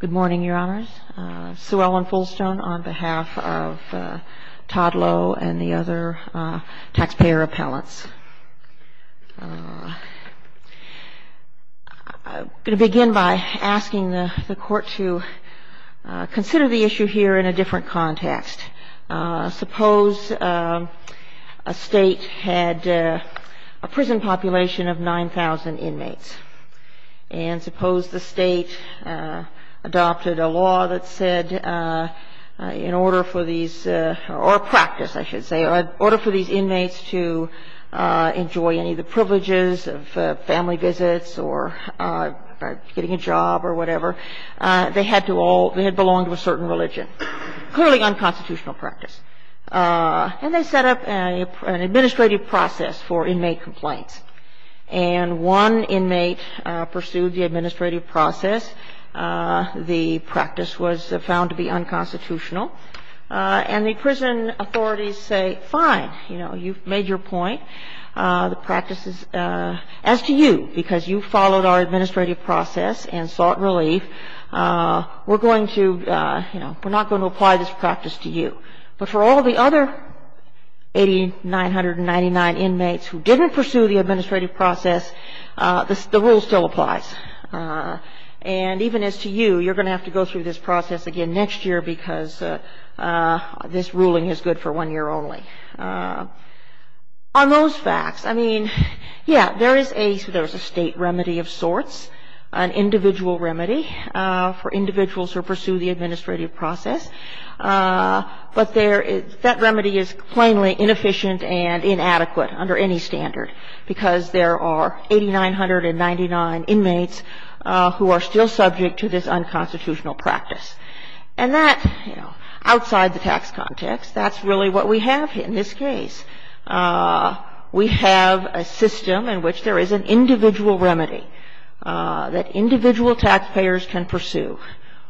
Good morning, Your Honors. Sue Ellen Fullstone on behalf of Todd Lowe and the other taxpayer appellants. I'm going to begin by asking the court to consider the issue here in a different context. Suppose a state had a prison population of 9,000 inmates. And suppose the state adopted a law that said in order for these, or a practice I should say, in order for these inmates to enjoy any of the privileges of family visits or getting a job or whatever, they had to all, they had belonged to a certain religion. Clearly unconstitutional practice. And they set up an administrative process for inmate complaints. And one inmate pursued the administrative process. The practice was found to be unconstitutional. And the prison authorities say, fine, you know, you've made your point. The practice is, as to you, because you followed our administrative process and sought relief, we're going to, you know, we're not going to apply this practice to you. But for all the other 8,999 inmates who didn't pursue the administrative process, the rule still applies. And even as to you, you're going to have to go through this process again next year because this ruling is good for one year only. On those facts, I mean, yeah, there is a state remedy of sorts. An individual remedy for individuals who pursue the administrative process. But that remedy is plainly inefficient and inadequate under any standard. Because there are 8,999 inmates who are still subject to this unconstitutional practice. And that, you know, outside the tax context, that's really what we have in this case. We have a system in which there is an individual remedy that individual taxpayers can pursue.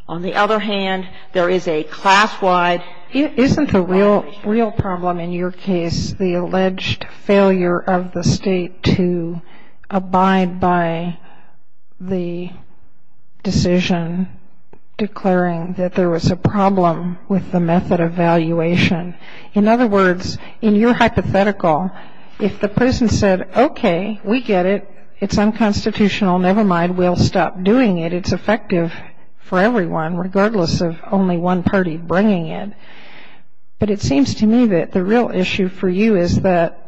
On the other hand, there is a class-wide remedy. Isn't the real problem in your case the alleged failure of the state to abide by the decision declaring that there was a problem with the method of valuation? In other words, in your hypothetical, if the prison said, okay, we get it, it's unconstitutional, never mind, we'll stop doing it, it's effective for everyone regardless of only one party bringing it. But it seems to me that the real issue for you is that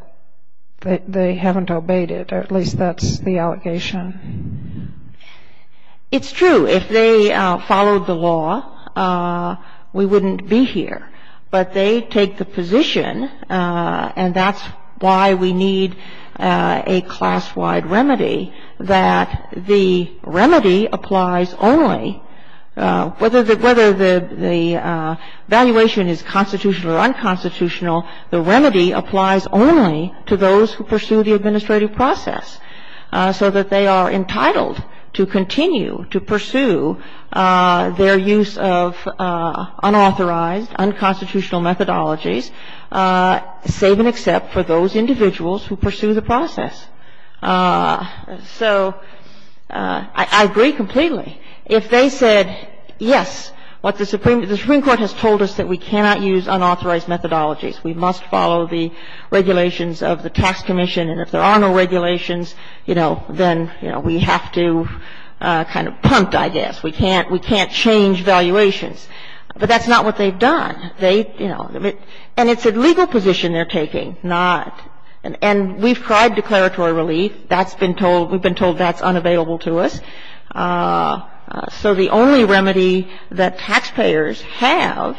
they haven't obeyed it, or at least that's the allegation. It's true. If they followed the law, we wouldn't be here. But they take the position, and that's why we need a class-wide remedy, that the remedy applies only, whether the valuation is constitutional or unconstitutional, the remedy applies only to those who pursue the administrative process. So that they are entitled to continue to pursue their use of unauthorized, unconstitutional methodologies, save and accept for those individuals who pursue the process. So I agree completely. If they said, yes, what the Supreme Court has told us, that we cannot use unauthorized methodologies, we must follow the regulations of the tax commission, and if there are no regulations, you know, then, you know, we have to kind of punt, I guess. We can't change valuations. But that's not what they've done. They, you know, and it's a legal position they're taking, not, and we've tried declaratory relief. That's been told, we've been told that's unavailable to us. So the only remedy that taxpayers have,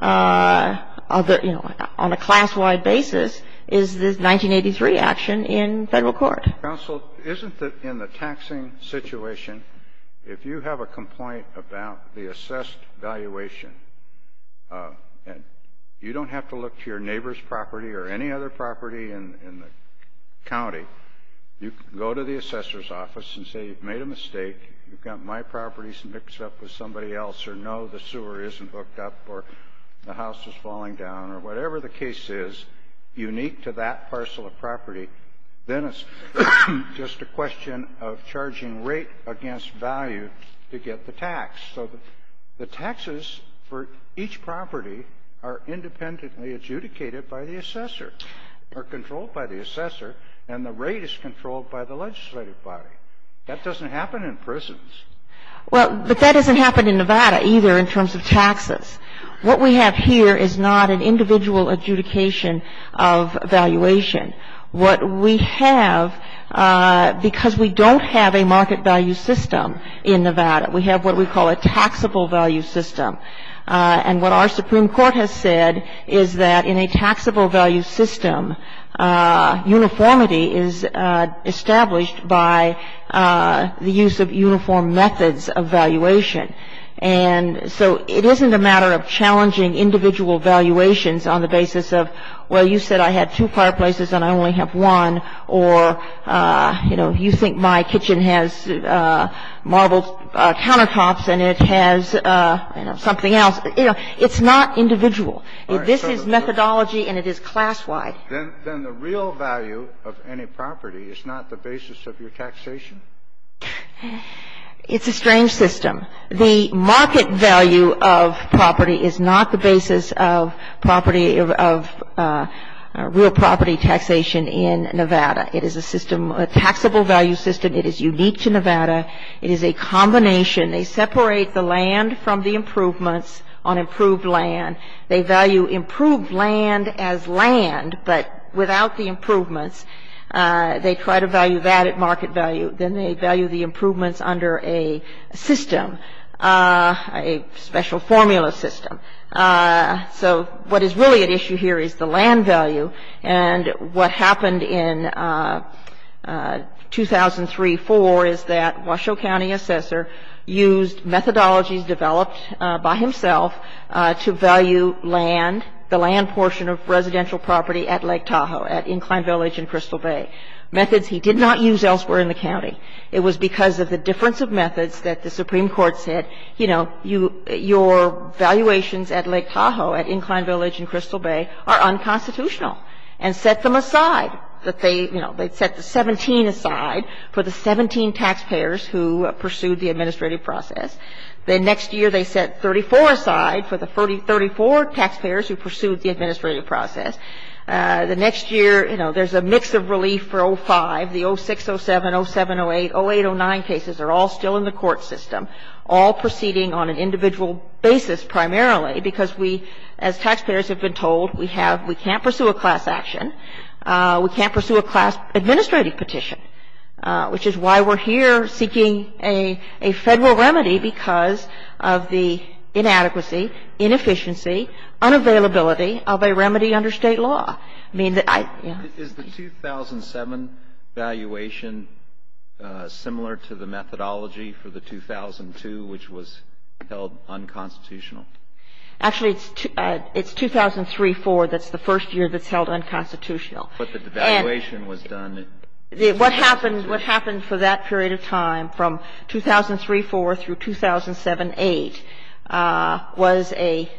you know, on a class-wide basis, is this 1983 action in Federal court. Counsel, isn't it in the taxing situation, if you have a complaint about the assessed valuation, and you don't have to look to your neighbor's property in the county, you can go to the assessor's office and say you've made a mistake, you've got my properties mixed up with somebody else's, or no, the sewer isn't hooked up, or the house is falling down, or whatever the case is unique to that parcel of property. Then it's just a question of charging rate against value to get the tax. So the taxes for each property are independently adjudicated by the assessor, or controlled by the assessor, and the rate is controlled by the legislative body. That doesn't happen in prisons. Well, but that doesn't happen in Nevada, either, in terms of taxes. What we have here is not an individual adjudication of valuation. What we have, because we don't have a market value system in Nevada, we have what we call a taxable value system. And what our Supreme Court has said is that in a taxable value system, uniformity is established by the use of uniform methods of valuation. And so it isn't a matter of challenging individual valuations on the basis of, well, you said I had two fireplaces and I only have one, or, you know, you think my kitchen has marble countertops and it has, you know, something else. You know, it's not individual. This is methodology and it is class-wide. Then the real value of any property is not the basis of your taxation? It's a strange system. The market value of property is not the basis of property of real property taxation in Nevada. It is a system, a taxable value system. It is unique to Nevada. It is a combination. They separate the land from the improvements on improved land. They value improved land as land but without the improvements. They try to value that at market value. Then they value the improvements under a system, a special formula system. So what is really at issue here is the land value. And what happened in 2003-4 is that Washoe County Assessor used methodologies developed by himself to value land, the land portion of residential property at Lake Tahoe, at Incline Village and Crystal Bay, methods he did not use elsewhere in the county. It was because of the difference of methods that the Supreme Court said, you know, your valuations at Lake Tahoe, at Incline Village and Crystal Bay are unconstitutional and set them aside, that they, you know, they set the 17 aside for the 17 taxpayers who pursued the administrative process. The next year they set 34 aside for the 34 taxpayers who pursued the administrative process. The next year, you know, there's a mix of relief for 05. The 06, 07, 07, 08, 08, 09 cases are all still in the court system, all proceeding on an individual basis primarily because we, as taxpayers have been told, we have, we can't pursue a class action. We can't pursue a class administrative petition, which is why we're here seeking a Federal remedy because of the inadequacy, inefficiency, unavailability of a remedy under state law. I mean, I. Is the 2007 valuation similar to the methodology for the 2002, which was held unconstitutional? Actually, it's 2003-04 that's the first year that's held unconstitutional. But the devaluation was done. What happened, what happened for that period of time from 2003-04 through 2007-08 was a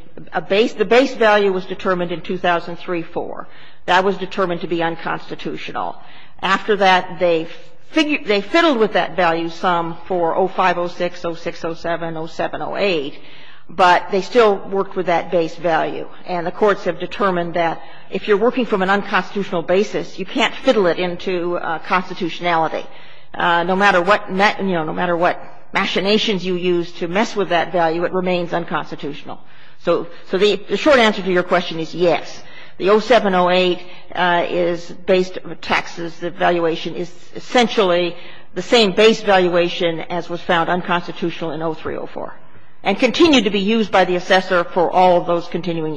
base, the base value was determined in 2003-04. That was determined to be unconstitutional. After that, they figured, they fiddled with that value sum for 05, 06, 06, 07, 07, 08, but they still worked with that base value. And the courts have determined that if you're working from an unconstitutional basis, you can't fiddle it into constitutionality. No matter what, you know, no matter what machinations you use to mess with that value, it remains unconstitutional. So the short answer to your question is yes. The 07-08 is based on taxes. The valuation is essentially the same base valuation as was found unconstitutional in 03-04 and continued to be used by the assessor for all of those continuing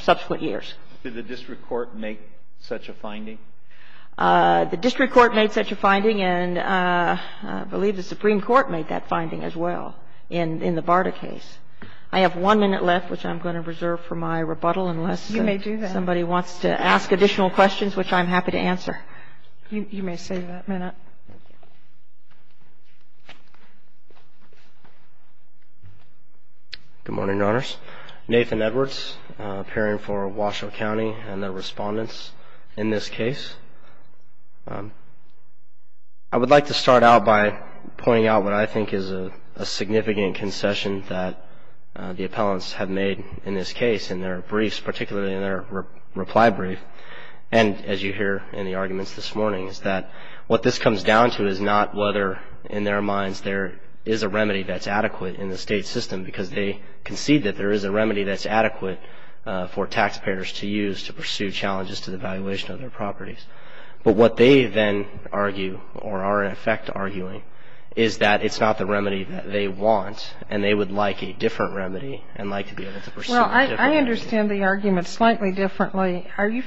subsequent years. Did the district court make such a finding? The district court made such a finding, and I believe the Supreme Court made that finding as well in the Barta case. I have one minute left, which I'm going to reserve for my rebuttal unless somebody wants to ask additional questions, which I'm happy to answer. Good morning, Your Honors. Nathan Edwards, appearing for Washoe County and the respondents in this case. I would like to start out by pointing out what I think is a significant concession that the appellants have made in this case in their briefs, particularly in their reply brief, and as you hear in the arguments this morning, is that what this comes down to is not whether in their minds there is a remedy that's adequate in the state system because they concede that there is a remedy that's adequate for taxpayers to use to pursue challenges to the valuation of their properties. But what they then argue or are in effect arguing is that it's not the remedy that they want, and they would like a different remedy and like to be able to pursue a different remedy. Well, I understand the argument slightly differently. Are you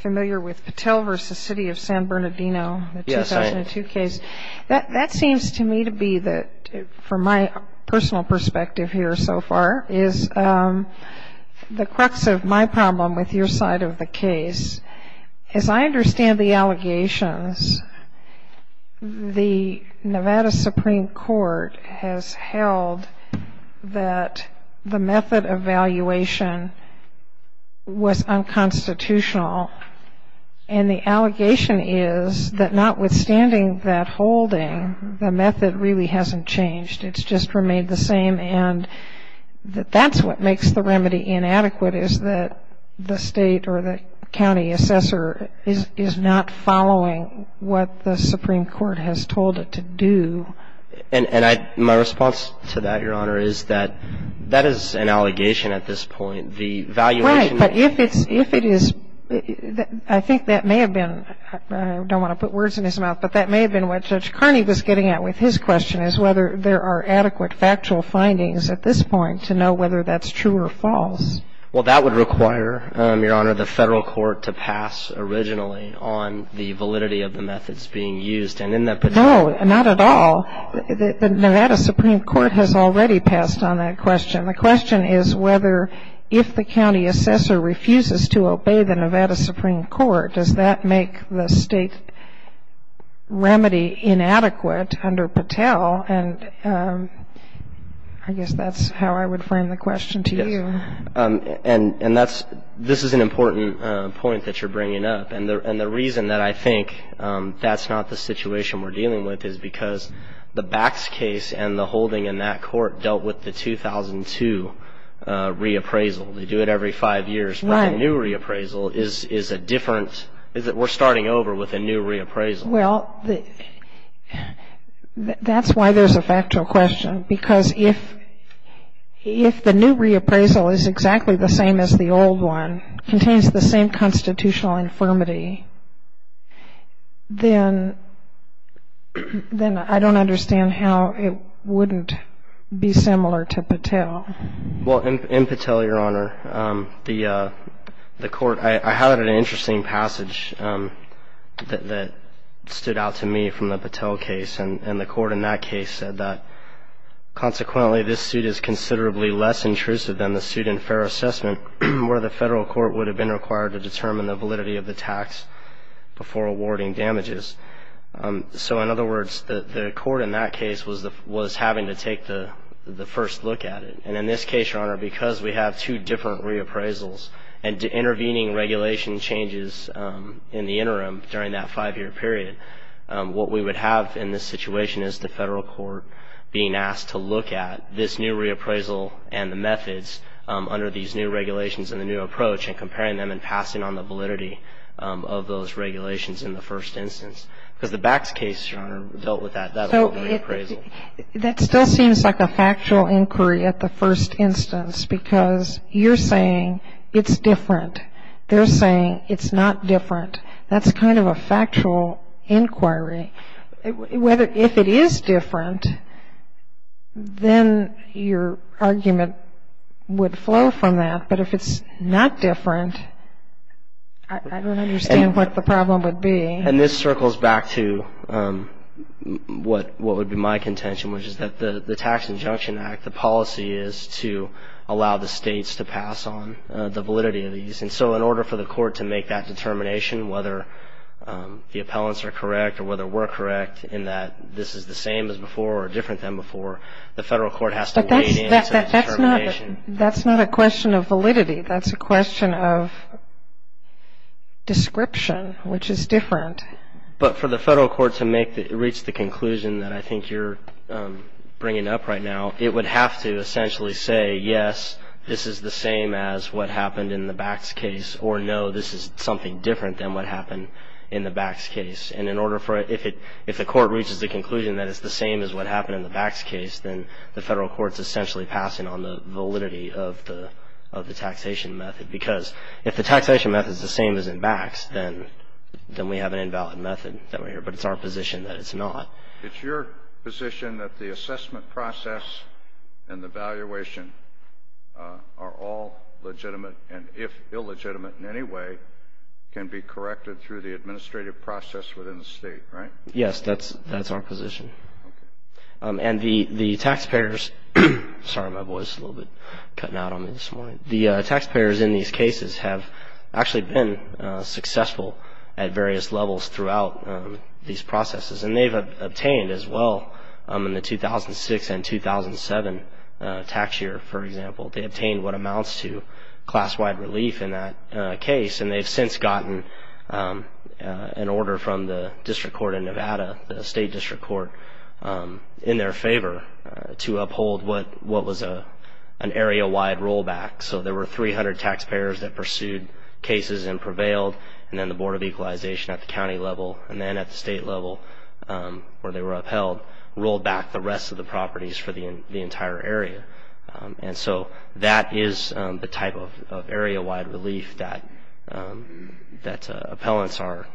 familiar with Patel v. City of San Bernardino, the 2002 case? Yes, I am. That seems to me to be, from my personal perspective here so far, is the crux of my problem with your side of the case. As I understand the allegations, the Nevada Supreme Court has held that the method of valuation was unconstitutional, and the allegation is that notwithstanding that whole holding, the method really hasn't changed. It's just remained the same, and that's what makes the remedy inadequate is that the state or the county assessor is not following what the Supreme Court has told it to do. And my response to that, Your Honor, is that that is an allegation at this point. The valuation... Right, but if it is, I think that may have been, I don't want to put words in his mouth, but that may have been what Judge Carney was getting at with his question, is whether there are adequate factual findings at this point to know whether that's true or false. Well, that would require, Your Honor, the federal court to pass originally on the validity of the methods being used, and in that particular... No, not at all. The Nevada Supreme Court has already passed on that question. The question is whether if the county assessor refuses to obey the Nevada Supreme Court, does that make the state remedy inadequate under Patel? And I guess that's how I would frame the question to you. Yes, and this is an important point that you're bringing up. And the reason that I think that's not the situation we're dealing with is because the Bax case and the holding in that court dealt with the 2002 reappraisal. They do it every five years. Right. But the new reappraisal is a different, we're starting over with a new reappraisal. Well, that's why there's a factual question. Because if the new reappraisal is exactly the same as the old one, contains the same constitutional infirmity, Well, in Patel, Your Honor, the court, I had an interesting passage that stood out to me from the Patel case. And the court in that case said that, consequently this suit is considerably less intrusive than the suit in fair assessment where the federal court would have been required to determine the validity of the tax before awarding damages. So, in other words, the court in that case was having to take the first look at it. And in this case, Your Honor, because we have two different reappraisals and intervening regulation changes in the interim during that five-year period, what we would have in this situation is the federal court being asked to look at this new reappraisal and the methods under these new regulations and the new approach and comparing them and passing on the validity of those regulations in the first instance. Because the Bax case, Your Honor, dealt with that old reappraisal. That still seems like a factual inquiry at the first instance because you're saying it's different. They're saying it's not different. That's kind of a factual inquiry. If it is different, then your argument would flow from that. But if it's not different, I don't understand what the problem would be. And this circles back to what would be my contention, which is that the Tax Injunction Act, the policy is to allow the states to pass on the validity of these. And so in order for the court to make that determination, whether the appellants are correct or whether we're correct in that this is the same as before or different than before, the federal court has to weigh in to the determination. But that's not a question of validity. That's a question of description, which is different. But for the federal court to reach the conclusion that I think you're bringing up right now, it would have to essentially say, yes, this is the same as what happened in the Bax case, or no, this is something different than what happened in the Bax case. And if the court reaches the conclusion that it's the same as what happened in the Bax case, then the federal court is essentially passing on the validity of the taxation method. Because if the taxation method is the same as in Bax, then we have an invalid method. But it's our position that it's not. It's your position that the assessment process and the valuation are all legitimate and if illegitimate in any way can be corrected through the administrative process within the state, right? Yes, that's our position. Okay. And the taxpayers – sorry, my voice is a little bit cutting out on me this morning. The taxpayers in these cases have actually been successful at various levels throughout these processes. And they've obtained as well in the 2006 and 2007 tax year, for example, they obtained what amounts to class-wide relief in that case. And they've since gotten an order from the district court in Nevada, the state district court, in their favor to uphold what was an area-wide rollback. So there were 300 taxpayers that pursued cases and prevailed and then the Board of Equalization at the county level and then at the state level where they were upheld rolled back the rest of the properties for the entire area. And so that is the type of area-wide relief that appellants are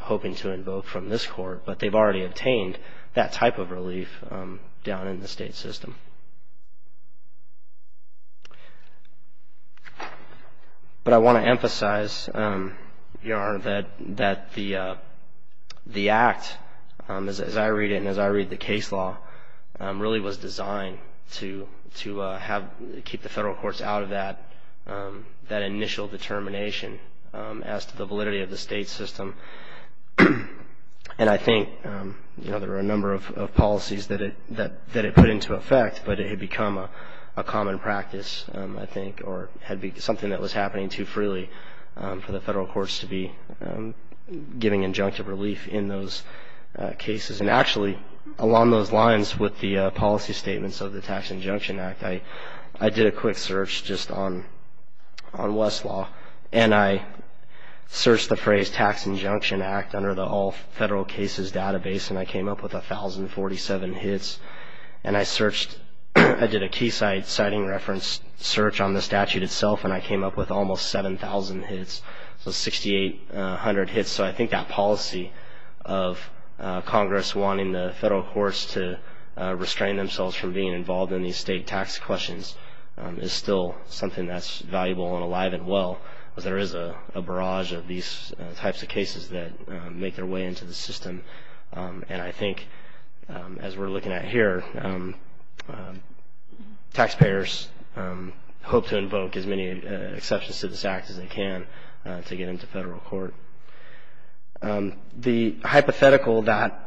hoping to invoke from this court, but they've already obtained that type of relief down in the state system. But I want to emphasize, VR, that the Act, as I read it and as I read the case law, really was designed to keep the federal courts out of that initial determination as to the validity of the state system. And I think there are a number of policies that it put into effect, but it had become a common practice, I think, or had been something that was happening too freely for the federal courts to be giving injunctive relief in those cases. And actually, along those lines with the policy statements of the Tax Injunction Act, I did a quick search just on Westlaw, and I searched the phrase Tax Injunction Act under the All Federal Cases database and I came up with 1,047 hits. And I did a Keysight sighting reference search on the statute itself and I came up with almost 7,000 hits, so 6,800 hits. And so I think that policy of Congress wanting the federal courts to restrain themselves from being involved in these state tax questions is still something that's valuable and alive and well because there is a barrage of these types of cases that make their way into the system. And I think, as we're looking at here, taxpayers hope to invoke as many exceptions to this act as they can to get into federal court. The hypothetical that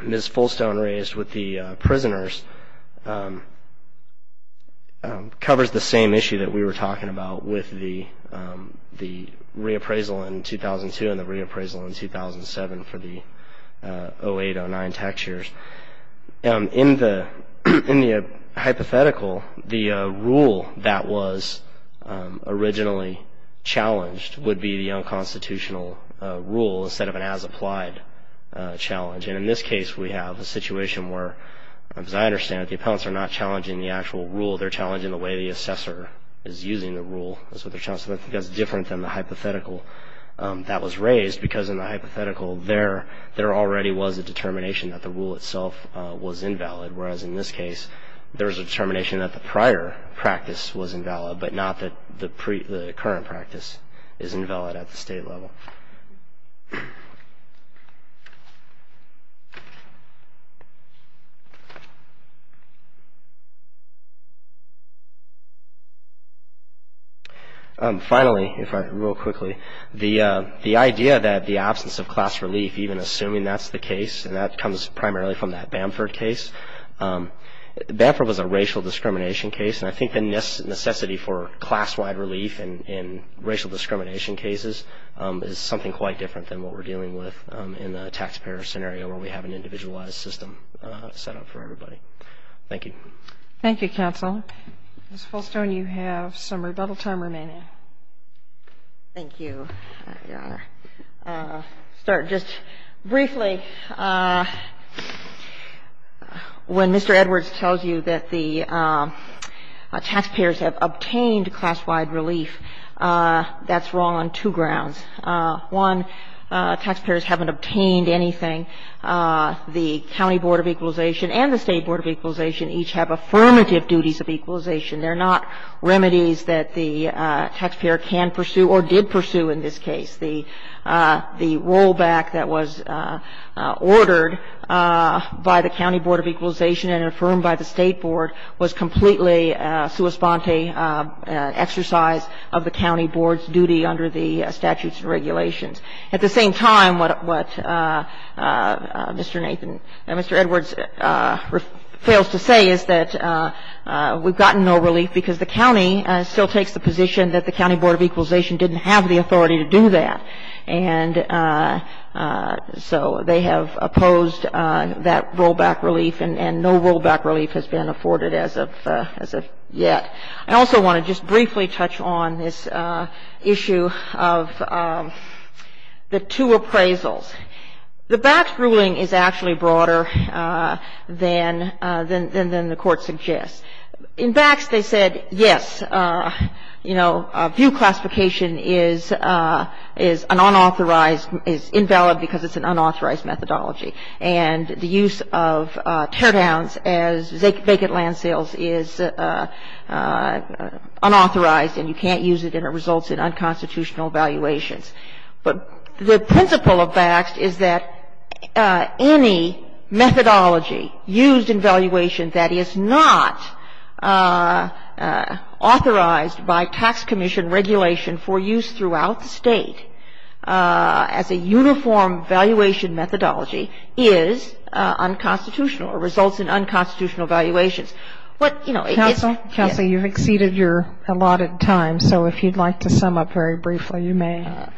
Ms. Fullstone raised with the prisoners covers the same issue that we were talking about with the reappraisal in 2002 and the reappraisal in 2007 for the 08-09 tax years. In the hypothetical, the rule that was originally challenged would be the unconstitutional rule instead of an as-applied challenge. And in this case, we have a situation where, as I understand it, the appellants are not challenging the actual rule. They're challenging the way the assessor is using the rule. So I think that's different than the hypothetical that was raised because in the hypothetical there already was a determination that the rule itself was invalid whereas in this case there was a determination that the prior practice was invalid but not that the current practice is invalid at the state level. Finally, real quickly, the idea that the absence of class relief, even assuming that's the case, and that comes primarily from that Bamford case. Bamford was a racial discrimination case and I think the necessity for class-wide relief in racial discrimination cases is something quite different than what we're dealing with in the taxpayer scenario where we have an individualized system set up for everybody. Thank you. Thank you, counsel. Ms. Fullstone, you have some rebuttal time remaining. Thank you, Your Honor. Start just briefly. When Mr. Edwards tells you that the taxpayers have obtained class-wide relief, that's wrong on two grounds. One, taxpayers haven't obtained anything. The county board of equalization and the state board of equalization each have affirmative duties of equalization. They're not remedies that the taxpayer can pursue or did pursue in this case. The rollback that was ordered by the county board of equalization and affirmed by the state board was completely a sua sponte exercise of the county board's duty under the statutes and regulations. At the same time, what Mr. Edwards fails to say is that we've gotten no relief because the county still takes the position that the county board of equalization didn't have the authority to do that. And so they have opposed that rollback relief and no rollback relief has been afforded as of yet. I also want to just briefly touch on this issue of the two appraisals. The Bax ruling is actually broader than the court suggests. In Bax they said, yes, you know, view classification is unauthorized, is invalid because it's an unauthorized methodology. And the use of teardowns as vacant land sales is unauthorized and you can't use it and it results in unconstitutional valuations. But the principle of Bax is that any methodology used in valuation that is not authorized by tax commission regulation for use throughout the state as a uniform valuation methodology is unconstitutional or results in unconstitutional valuations. What, you know, it is ‑‑ Counsel, counsel, you've exceeded your allotted time. So if you'd like to sum up very briefly, you may.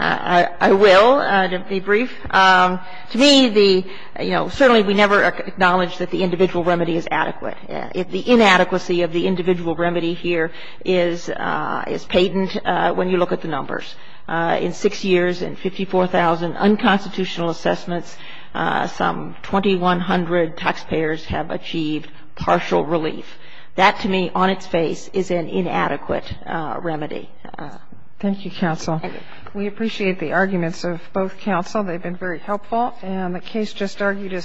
I will be brief. To me the, you know, certainly we never acknowledge that the individual remedy is adequate. The inadequacy of the individual remedy here is patent when you look at the numbers. In 6 years and 54,000 unconstitutional assessments, some 2,100 taxpayers have achieved partial relief. That to me on its face is an inadequate remedy. Thank you, counsel. We appreciate the arguments of both counsel. They've been very helpful. And the case just argued is submitted.